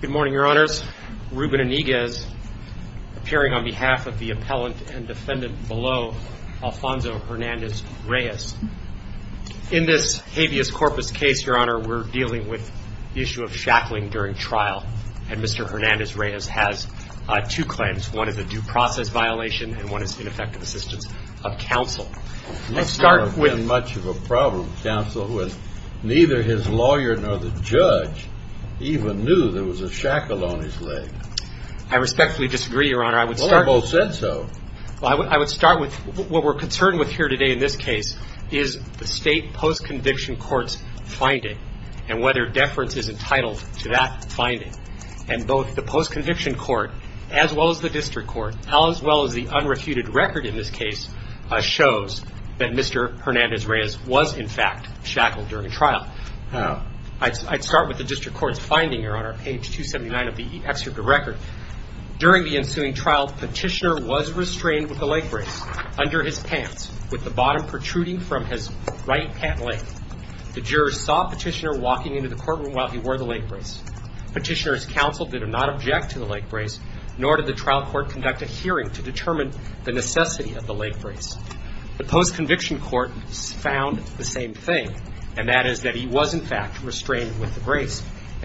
Good morning, your honors. Reuben Iniguez, appearing on behalf of the appellant and defendant below, Alfonso Hernandez-Reyes. In this habeas corpus case, your honor, we're dealing with the issue of shackling during trial and Mr. Hernandez-Reyes has two claims. One is a due process violation and one is ineffective assistance of counsel. Let's start with much of a problem counsel who has neither his lawyer nor the judge even knew there was a shackle on his leg. I respectfully disagree, your honor. I would start... Well, they both said so. I would start with what we're concerned with here today in this case is the state post-conviction courts finding and whether deference is entitled to that finding and both the post-conviction court as well as the district court as well as the unrefuted record in this case shows that Mr. Hernandez-Reyes was in fact shackled during trial. I'd start with the district court's finding, your honor, page 279 of the excerpt of record. During the ensuing trial, petitioner was restrained with the leg brace under his pants with the bottom protruding from his right pant leg. The jurors saw petitioner walking into the courtroom while he wore the leg brace. Petitioner's counsel did not object to the leg brace nor did the trial court conduct a hearing to determine the necessity of the leg brace.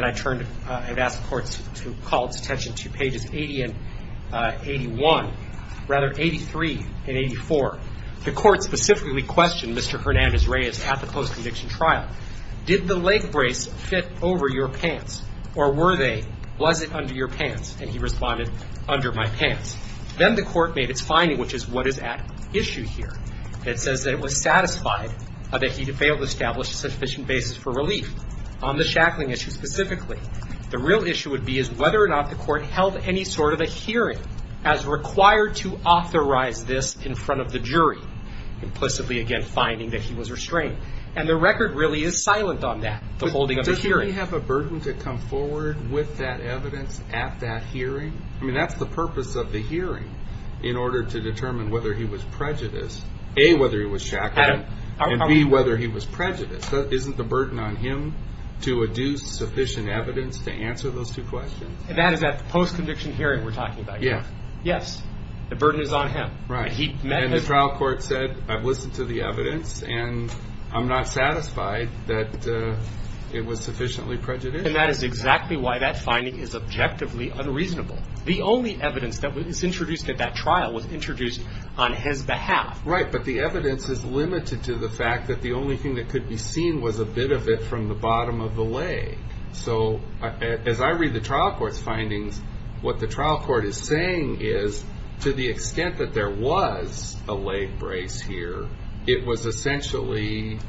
I'd turn to, I'd ask the courts to call this attention to pages 80 and 81, rather 83 and 84. The court specifically questioned Mr. Hernandez-Reyes at the post-conviction trial. Did the leg brace fit over your pants or were they? Was it under your pants? And he responded, under my pants. Then the court made its issue here. It says that it was satisfied that he had failed to establish a sufficient basis for relief on the shackling issue specifically. The real issue would be is whether or not the court held any sort of a hearing as required to authorize this in front of the jury. Implicitly, again, finding that he was restrained. And the record really is silent on that, the holding of the hearing. But doesn't he have a burden to come forward with that evidence at that hearing? I mean, that's the purpose of the hearing, in order to determine whether he was prejudiced. A, whether he was shackled, and B, whether he was prejudiced. Isn't the burden on him to adduce sufficient evidence to answer those two questions? And that is that post-conviction hearing we're talking about. Yes. Yes. The burden is on him. Right. And the trial court said, I've listened to the evidence and I'm not satisfied that it was sufficiently prejudiced. And that is exactly why that finding is objectively unreasonable. The only evidence that was introduced at that trial was introduced on his behalf. Right. But the evidence is limited to the fact that the only thing that could be seen was a bit of it from the bottom of the leg. So, as I read the trial court's findings, what the trial court is saying is, to the extent that there was a leg brace here, it was essentially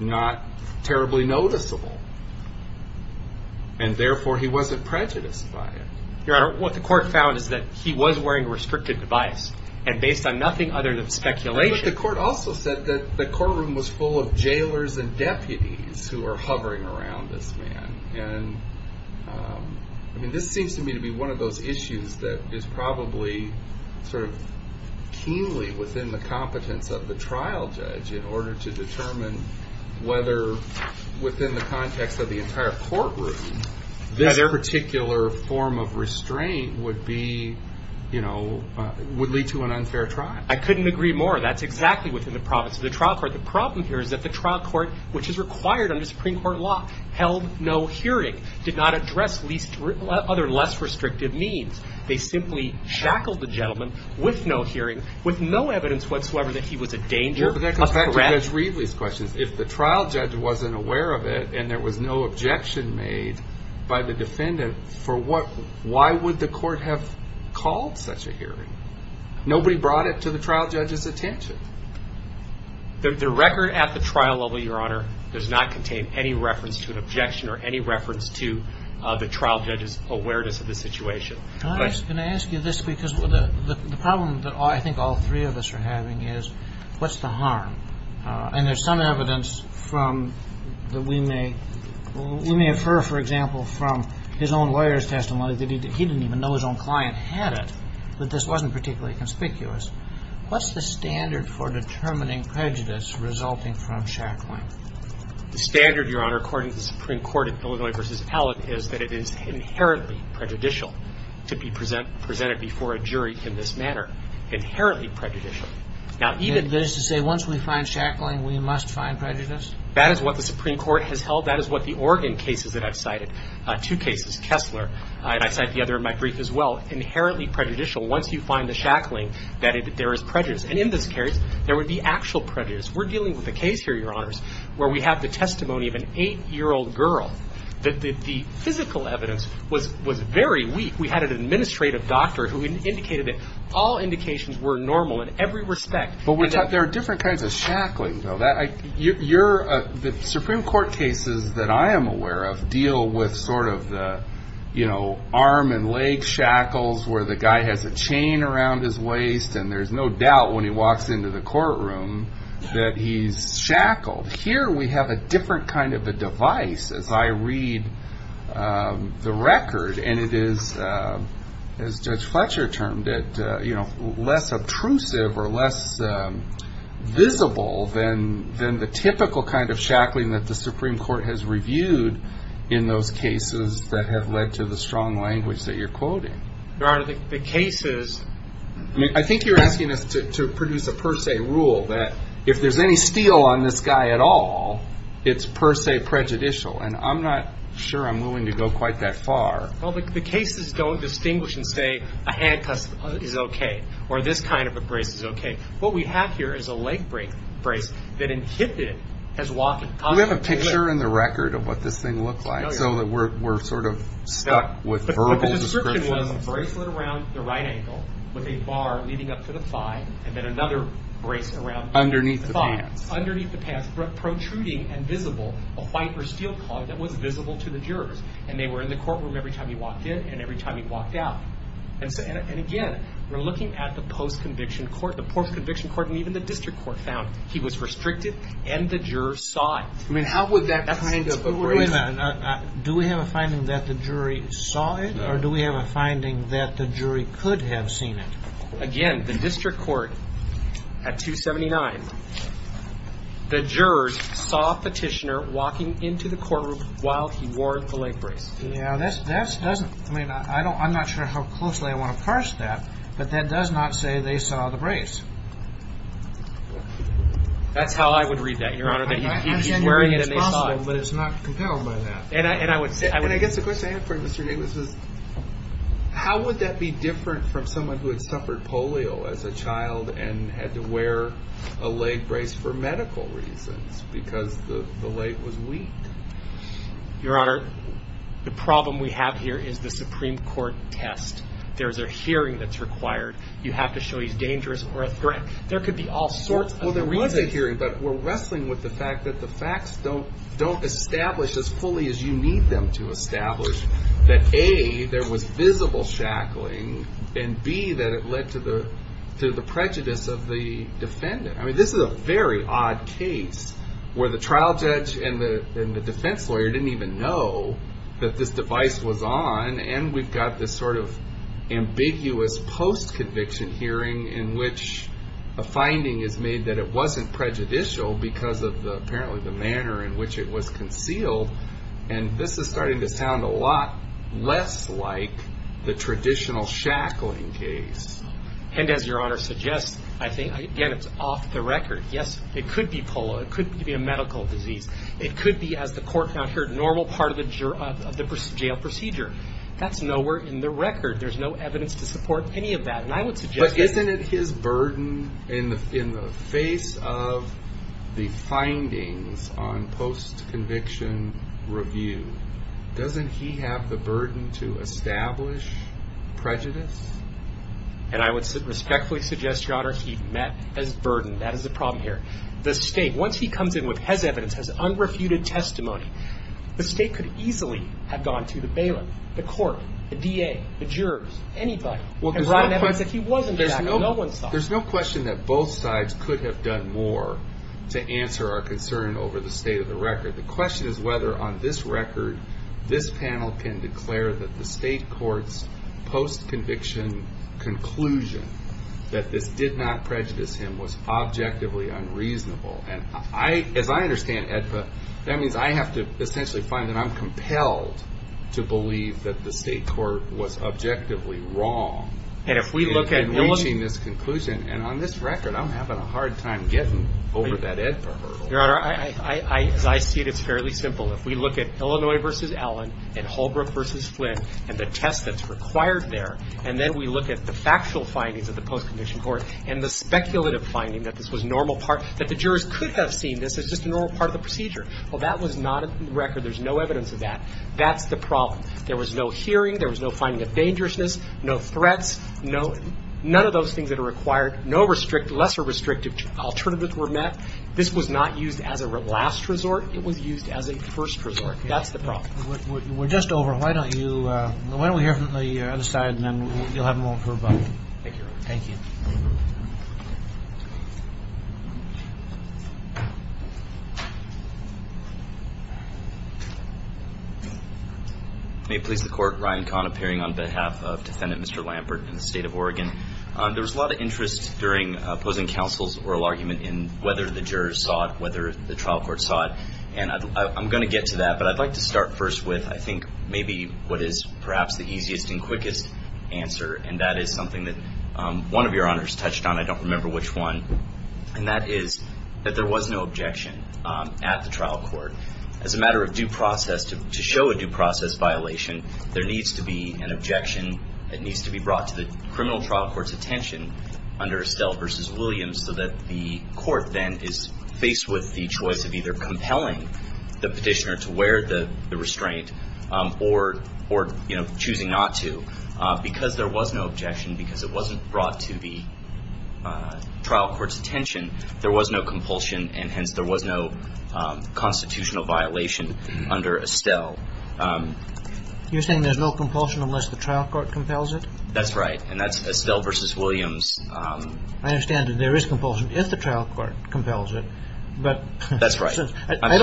not terribly noticeable. And therefore, he wasn't prejudiced by it. Your Honor, what the court found is that he was wearing a restricted device. And based on nothing other than speculation. But the court also said that the courtroom was full of jailers and deputies who are hovering around this man. And, I mean, this seems to me to be one of those issues that is probably sort of keenly within the competence of the trial judge in order to within the context of the entire courtroom, this particular form of restraint would be, you know, would lead to an unfair trial. I couldn't agree more. That's exactly within the promise of the trial court. The problem here is that the trial court, which is required under Supreme Court law, held no hearing, did not address other less restrictive means. They simply shackled the gentleman with no hearing, with no evidence whatsoever that he was a danger. Well, but that goes back to Judge Readley's questions. If the trial judge wasn't aware of it, and there was no objection made by the defendant, for what... Why would the court have called such a hearing? Nobody brought it to the trial judge's attention. The record at the trial level, Your Honor, does not contain any reference to an objection or any reference to the trial judge's awareness of the situation. Can I ask you this? Because the problem that I think all three of us are having is, what's the harm? And there's some evidence from... That we may... We may infer, for example, from his own lawyer's testimony that he didn't even know his own client had it, that this wasn't particularly conspicuous. What's the standard for determining prejudice resulting from shackling? The standard, Your Honor, according to the Supreme Court at Illinois v. Allen, is that it is inherently prejudicial to be presented before a jury in this manner. Inherently prejudicial. Now, even... That is to say, once we find shackling, we must find prejudice? That is what the Supreme Court has held. That is what the Oregon cases that I've cited, two cases, Kessler, and I cite the other in my brief as well, inherently prejudicial. Once you find the shackling, that there is prejudice. And in this case, there would be actual prejudice. We're dealing with a case here, Your Honors, where we have the testimony of an eight year old girl, that the physical evidence was very weak. We had an administrative doctor who indicated that all indications were normal in every respect. But there are different kinds of shackling, though. The Supreme Court cases that I am aware of deal with the arm and leg shackles, where the guy has a chain around his waist, and there's no doubt when he walks into the courtroom that he's shackled. Here, we have a different kind of a device, as I read the record, and it is, as Judge Fletcher termed it, less obtrusive or less visible than the typical kind of shackling that the Supreme Court has reviewed in those cases that have led to the strong language that you're quoting. Your Honor, the cases... I think you're asking us to produce a per se rule, that if there's any steel on this guy at all, it's per se prejudicial. And I'm not sure I'm willing to go quite that far. Well, the cases don't distinguish and say, a handcuff is okay, or this kind of a brace is okay. What we have here is a leg brace that inhibited his walking. Do we have a picture in the record of what this thing looked like, so that we're sort of stuck with verbal descriptions? The description was a bracelet around the right ankle, with a bar leading up to the thigh, and then another brace around... Underneath the pants. Underneath the pants, protruding and visible, a white or steel claw that was visible to the jurors. And they were in the courtroom every time he walked in, and every time he walked out. And again, we're looking at the post-conviction court. The post-conviction court and even the district court found he was restricted, and the jurors saw it. I mean, how would that kind of... Do we have a finding that the jury saw it, or do we have a finding that the jury could have seen it? Again, the district court, at 279, the jurors saw a petitioner walking into the courtroom while he wore the leg brace. Yeah, that doesn't... I mean, I'm not sure how closely I want to parse that, but that does not say they saw the brace. That's how I would read that, Your Honor. That he's wearing it and they saw it. But it's not compelled by that. And I would say... And I guess the question I have for you, Mr. Davis, is how would that be different from someone who had suffered polio as a child and had to wear a leg brace for medical reasons, because the leg brace is weak. Your Honor, the problem we have here is the Supreme Court test. There's a hearing that's required. You have to show he's dangerous or a threat. There could be all sorts of reasons. Well, there was a hearing, but we're wrestling with the fact that the facts don't establish as fully as you need them to establish, that A, there was visible shackling, and B, that it led to the prejudice of the defendant. I mean, this is a very odd case where the trial judge and the defense lawyer didn't even know that this device was on, and we've got this sort of ambiguous post-conviction hearing in which a finding is made that it wasn't prejudicial because of apparently the manner in which it was concealed. And this is starting to sound a lot less like the traditional shackling case. And as Your Honor suggests, I think, again, it's off the record. Yes, it could be polo. It could be a medical disease. It could be, as the court found here, normal part of the jail procedure. That's nowhere in the record. There's no evidence to support any of that. And I would suggest that- But isn't it his burden in the face of the findings on post-conviction review? Doesn't he have the burden to establish prejudice? And I would respectfully suggest, Your Honor, he met his burden. That is the problem here. The state, once he comes in with his evidence, his unrefuted testimony, the state could easily have gone to the bailiff, the court, the DA, the jurors, anybody, and brought an evidence that he wasn't a faggot and no one saw it. There's no question that both sides could have done more to answer our concern over the state of the record. The question is whether on this record, this panel can declare that the state court's post-conviction conclusion that this did not prejudice him was objectively unreasonable. And as I understand AEDPA, that means I have to essentially find that I'm compelled to believe that the state court was objectively wrong in reaching this conclusion. And on this record, I'm having a hard time getting over that AEDPA hurdle. Your Honor, as I see it, it's fairly simple. If we look at Illinois v. Allen and Holbrook v. Flynn and the test that's required there, and then we look at the factual findings of the post-conviction court and the speculative finding that this was normal part, that the jurors could have seen this as just a normal part of the procedure. Well, that was not in the record. There's no evidence of that. That's the problem. There was no hearing. There was no finding of dangerousness, no threats, none of those things that are required, no lesser restrictive alternatives were met. This was not used as a last resort. It was used as a first resort. That's the problem. We're just over. Why don't you, why don't we hear from the other side and then you'll have more for about. Thank you, Your Honor. Thank you. May it please the Court, Ryan Kahn appearing on behalf of Defendant Mr. Lambert in the state of Oregon. There was a lot of interest during opposing counsel's oral argument in whether the jurors saw it, whether the trial court saw it, and I'm going to get to that, but I'd like to start first with, I think, maybe what is perhaps the easiest and quickest answer, and that is something that one of your honors touched on, I don't remember which one, and that is that there was no objection at the trial court. As a matter of due process, to show a due process violation, there needs to be an objection that needs to be brought to the criminal trial court's attention under Estelle versus Williams so that the court then is faced with the choice of either compelling the petitioner to wear the restraint or, you know, choosing not to. Because there was no objection, because it wasn't brought to the trial court's attention, there was no compulsion, and hence there was no constitutional violation under Estelle. You're saying there's no compulsion unless the trial court compels it? That's right. And that's Estelle versus Williams. I understand that there is compulsion if the trial court compels it, but I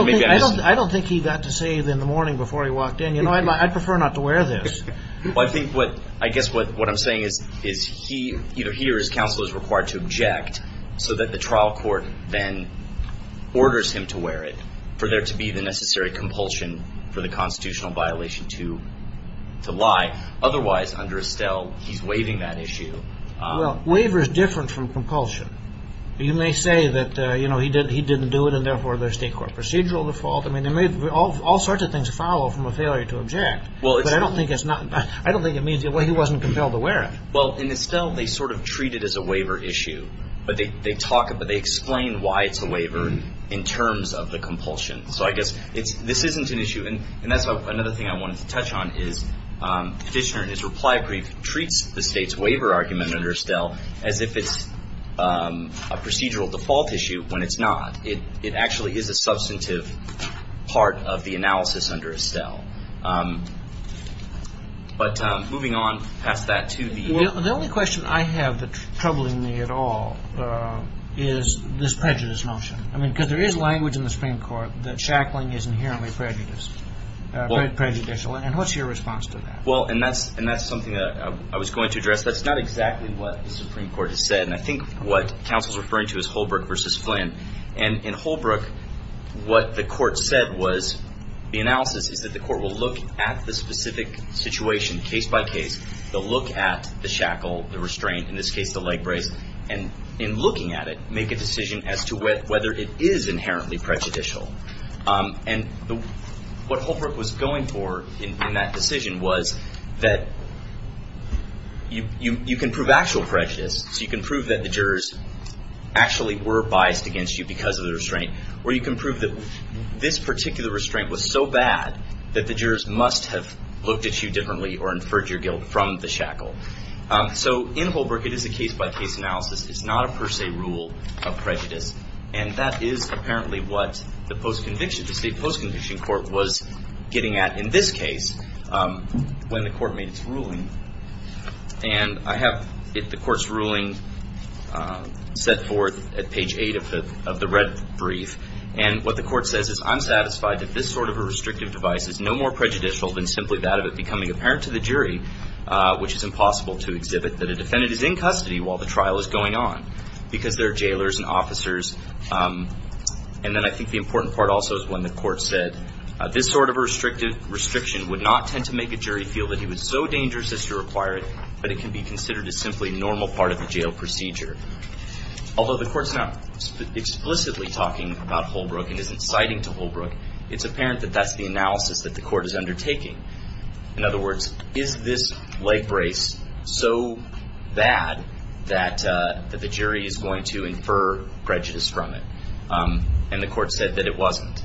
don't think he got to say it in the morning before he walked in, you know, I'd prefer not to wear this. Well, I think what, I guess what I'm saying is he, either he or his counsel is required to object so that the trial court then orders him to wear it for there to be the necessary compulsion for the constitutional violation to lie, otherwise, under Estelle, he's waiving that issue. Well, waiver is different from compulsion. You may say that, you know, he didn't do it and therefore there's state court procedural default. I mean, there may be all sorts of things to follow from a failure to object, but I don't think it's not, I don't think it means he wasn't compelled to wear it. Well, in Estelle, they sort of treat it as a waiver issue, but they talk, but they explain why it's a waiver in terms of the compulsion. So I guess it's, this isn't an issue, and that's another thing I wanted to touch on is Fitchner in his reply brief treats the state's waiver argument under Estelle as if it's a procedural default issue when it's not. It actually is a substantive part of the analysis under Estelle. But moving on past that to the... Well, the only question I have that's troubling me at all is this prejudice notion. I mean, because there is language in the Supreme Court that shackling is inherently prejudiced, very prejudicial, and what's your response to that? Well, and that's something that I was going to address. That's not exactly what the Supreme Court has said, and I think what counsel's referring to is Holbrooke versus Flynn. And in Holbrooke, what the court said was, the analysis is that the court will look at the specific situation case by case, they'll look at the shackle, the restraint, in this case the leg brace, and in looking at it, make a decision as to whether it is inherently prejudicial. And what Holbrooke was going for in that decision was that you can prove actual prejudice, so you can prove that the jurors actually were biased against you because of the restraint, or you can prove that this particular restraint was so bad that the jurors must have looked at you differently or inferred your guilt from the shackle. So in Holbrooke, it is a case-by-case analysis. It's not a per se rule of prejudice. And that is apparently what the post-conviction, the state post-conviction court was getting at in this case when the court made its ruling. And I have the court's ruling set forth at page 8 of the red brief. And what the court says is, I'm satisfied that this sort of a restrictive device is no more prejudicial than simply that of it becoming apparent to the jury, which is impossible to exhibit that a defendant is in custody while the trial is going on because there are jailers and officers. And then I think the important part also is when the court said, this sort of a restriction would not tend to make a jury feel that he was so dangerous as to require it, but it can be considered as simply a normal part of a jail procedure. Although the court's not explicitly talking about Holbrooke and isn't citing to Holbrooke, it's apparent that that's the analysis that the court is undertaking. In other words, is this leg brace so bad that the jury is going to infer prejudice from it? And the court said that it wasn't.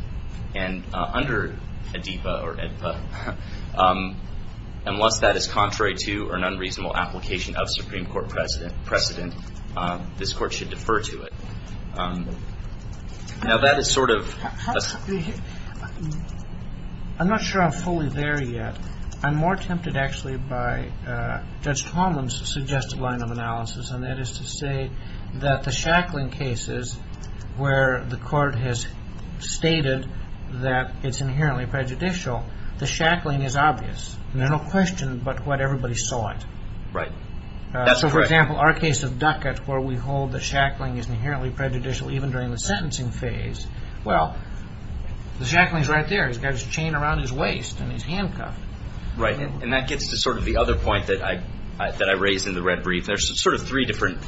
And under ADIPA or ADIPA, unless that is contrary to or an unreasonable application of Supreme Court precedent, this court should defer to it. Now that is sort of a... I'm not sure I'm fully there yet. I'm more tempted actually by Judge Tolman's suggested line of analysis, and that is to say that the shackling cases where the court has stated that it's inherently prejudicial, the shackling is obvious. There are no questions but what everybody saw it. Right. That's correct. So for example, our case of Duckett where we hold the shackling is inherently prejudicial even during the sentencing phase. Well, the shackling is right there. He's got his chain around his waist and he's handcuffed. Right. And that gets to sort of the other point that I raised in the red brief. There's sort of three different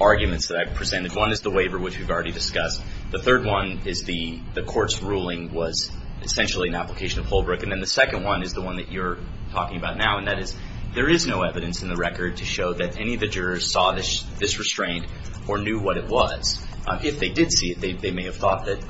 arguments that I've presented. One is the waiver, which we've already discussed. The third one is the court's ruling was essentially an application of Holbrooke, and then the second one is the one that you're talking about now, and that is there is no evidence in the record to show that any of the jurors saw this restraint or knew what it was. If they did see it, they may have thought that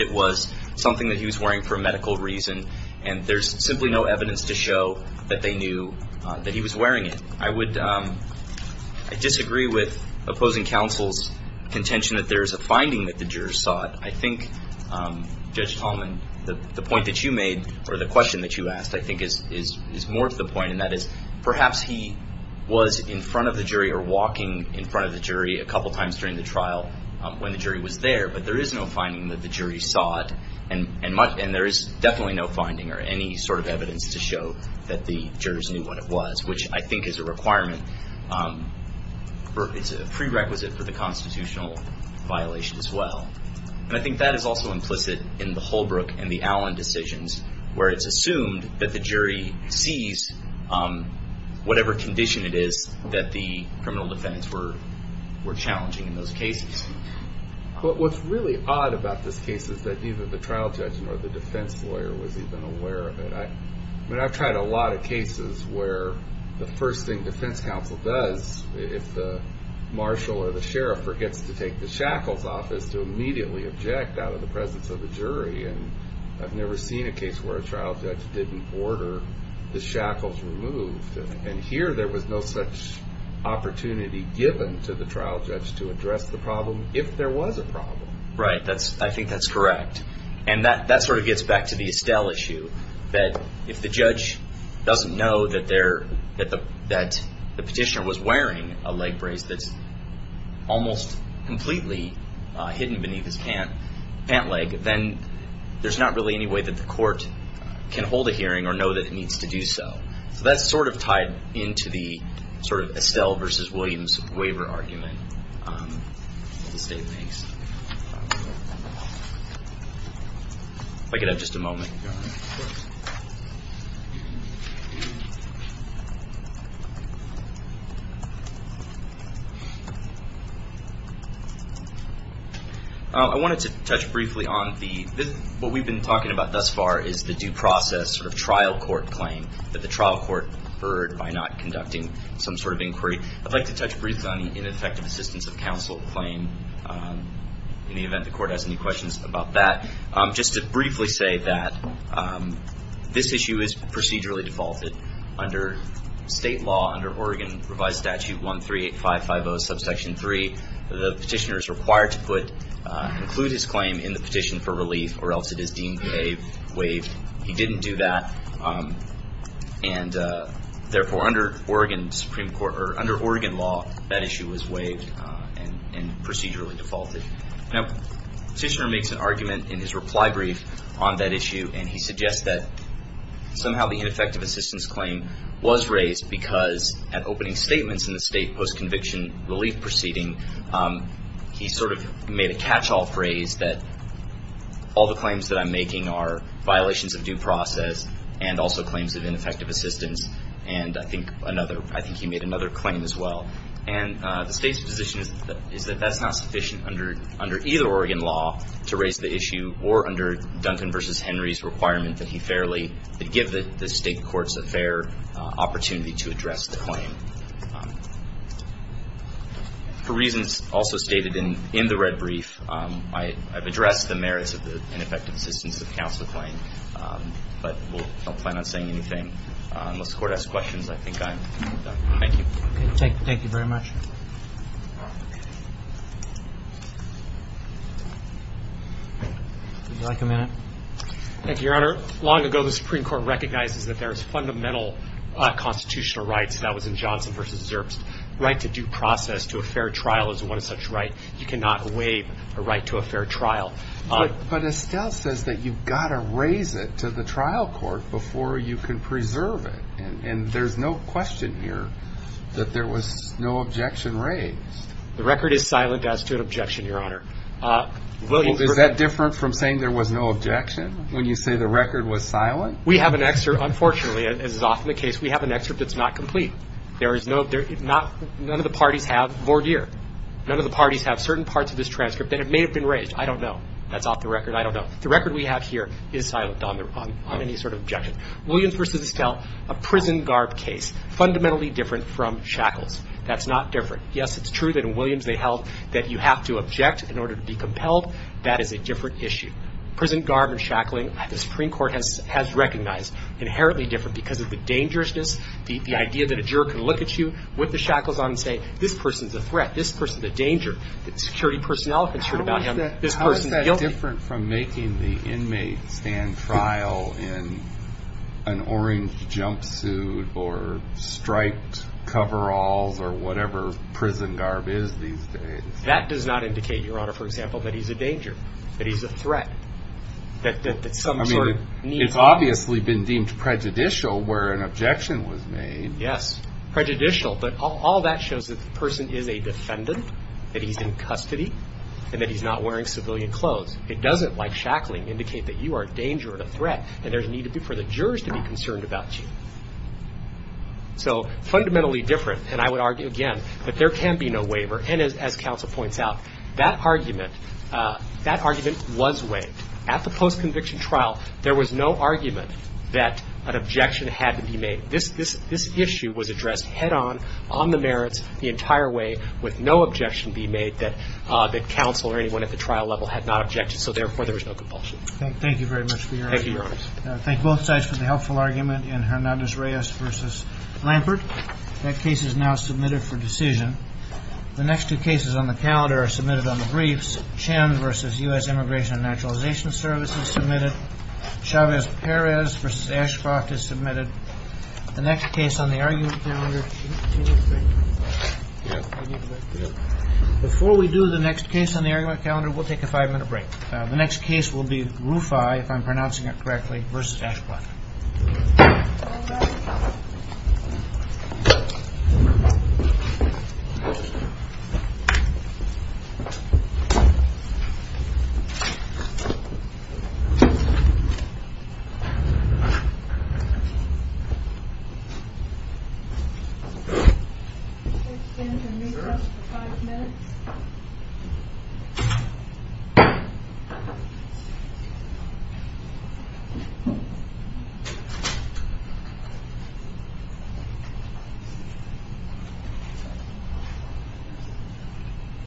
it was something that he was wearing for medical reason, and there's simply no evidence to show that they knew that he was wearing it. I disagree with opposing counsel's contention that there is a finding that the jurors saw it. I think, Judge Tallman, the point that you made or the question that you asked I think is more to the point, and that is perhaps he was in front of the jury or walking in front of the jury a couple of times during the trial when the jury was there, but there is no finding that the jury saw it, and there is definitely no finding or any sort of evidence to show that the jurors knew what it was, which I think is a requirement or is a prerequisite for the constitutional violation as well, and I think that is also implicit in the Holbrooke and the Allen decisions where it's assumed that the jury sees whatever condition it is that the criminal defendants were challenging in those cases. What's really odd about this case is that neither the trial judge nor the defense lawyer was even aware of it. I mean, I've tried a lot of cases where the first thing defense counsel does if the marshal or the sheriff forgets to take the shackles off is to immediately object out of the presence of the jury, and I've never seen a case where a trial judge didn't order the shackles removed, and here there was no such opportunity given to the trial judge to address the problem if there was a problem. Right. I think that's correct, and that sort of gets back to the Estelle issue that if the judge doesn't know that the petitioner was wearing a leg brace that's almost completely hidden beneath his pant leg, then there's not really any way that the court can hold a hearing or know that it needs to do so. So that's sort of tied into the sort of Estelle versus Williams waiver argument of the state case. If I could have just a moment. I wanted to touch briefly on the, what we've been talking about thus far is the due process sort of trial court claim that the trial court heard by not conducting some sort of inquiry. I'd like to touch briefly on the ineffective assistance of counsel claim in the event the court has any questions about that. Just to briefly say that this issue is procedurally defaulted under state law under Oregon revised statute 138550 subsection 3. The petitioner is required to put, include his claim in the petition for relief or else it is deemed waived. He didn't do that and therefore under Oregon law that issue was waived and procedurally defaulted. Now the petitioner makes an argument in his reply brief on that issue and he suggests that somehow the ineffective assistance claim was raised because at opening statements in the state post conviction relief proceeding, he sort of made a catch all phrase that all the claims that I'm making are violations of due process and also claims of ineffective assistance and I think another, I think he made another claim as well. And the state's position is that that's not sufficient under either Oregon law to raise the issue or under Duncan versus Henry's requirement that he fairly, that give the state courts a fair opportunity to address the claim. For reasons also stated in the red brief, I've addressed the merits of the ineffective assistance of counsel claim, but we'll not plan on saying anything unless the court asks questions. I think I'm done. Thank you. Okay. Thank you very much. Would you like a minute? Thank you, Your Honor. Long ago the Supreme Court recognizes that there is fundamental constitutional rights and that was in Johnson versus Zerbst, right to due process to a fair trial is one of such right. You cannot waive a right to a fair trial. But Estelle says that you've got to raise it to the trial court before you can preserve it and there's no question here that there was no objection raised. The record is silent as to an objection, Your Honor. Is that different from saying there was no objection when you say the record was silent? We have an excerpt, unfortunately, as is often the case, we have an excerpt that's not complete. There is no, none of the parties have voir dire. None of the parties have certain parts of this transcript that may have been raised. I don't know. That's off the record. I don't know. The record we have here is silent on any sort of objection. Williams versus Estelle, a prison garb case, fundamentally different from Shackles. That's not different. Yes, it's true that in Williams they held that you have to object in order to be compelled. That is a different issue. Prison garb and shackling, the Supreme Court has recognized, inherently different because of the dangerousness, the idea that a juror can look at you with the shackles on and say, this person's a threat, this person's a danger, that security personnel have been sure about him, this person's guilty. How is that different from making the inmate stand trial in an orange jumpsuit or striped coveralls or whatever prison garb is these days? That does not indicate, Your Honor, for example, that he's a danger, that he's a threat, that some sort of need. I mean, it's obviously been deemed prejudicial where an objection was made. Yes. Prejudicial. But all that shows that the person is a defendant, that he's in custody, and that he's not wearing civilian clothes. It doesn't, like shackling, indicate that you are a danger or a threat and there's a need for the jurors to be concerned about you. So fundamentally different. And I would argue, again, that there can be no waiver. And as counsel points out, that argument, that argument was waived. At the post-conviction trial, there was no argument that an objection had to be made. This issue was addressed head on, on the merits, the entire way, with no objection being made that counsel or anyone at the trial level had not objected. So therefore, there was no compulsion. Thank you very much for your answer. Thank you, Your Honor. I thank both sides for the helpful argument in Hernandez-Reyes v. Lampert. That case is now submitted for decision. The next two cases on the calendar are submitted on the briefs. Chen v. U.S. Immigration and Naturalization Services submitted. Chavez-Perez v. Ashcroft is submitted. The next case on the argument calendar... Before we do the next case on the argument calendar, we'll take a five-minute break. The next case will be Rufai, if I'm pronouncing it correctly, v. Ashcroft. All rise. We'll extend the recess for five minutes. Thank you.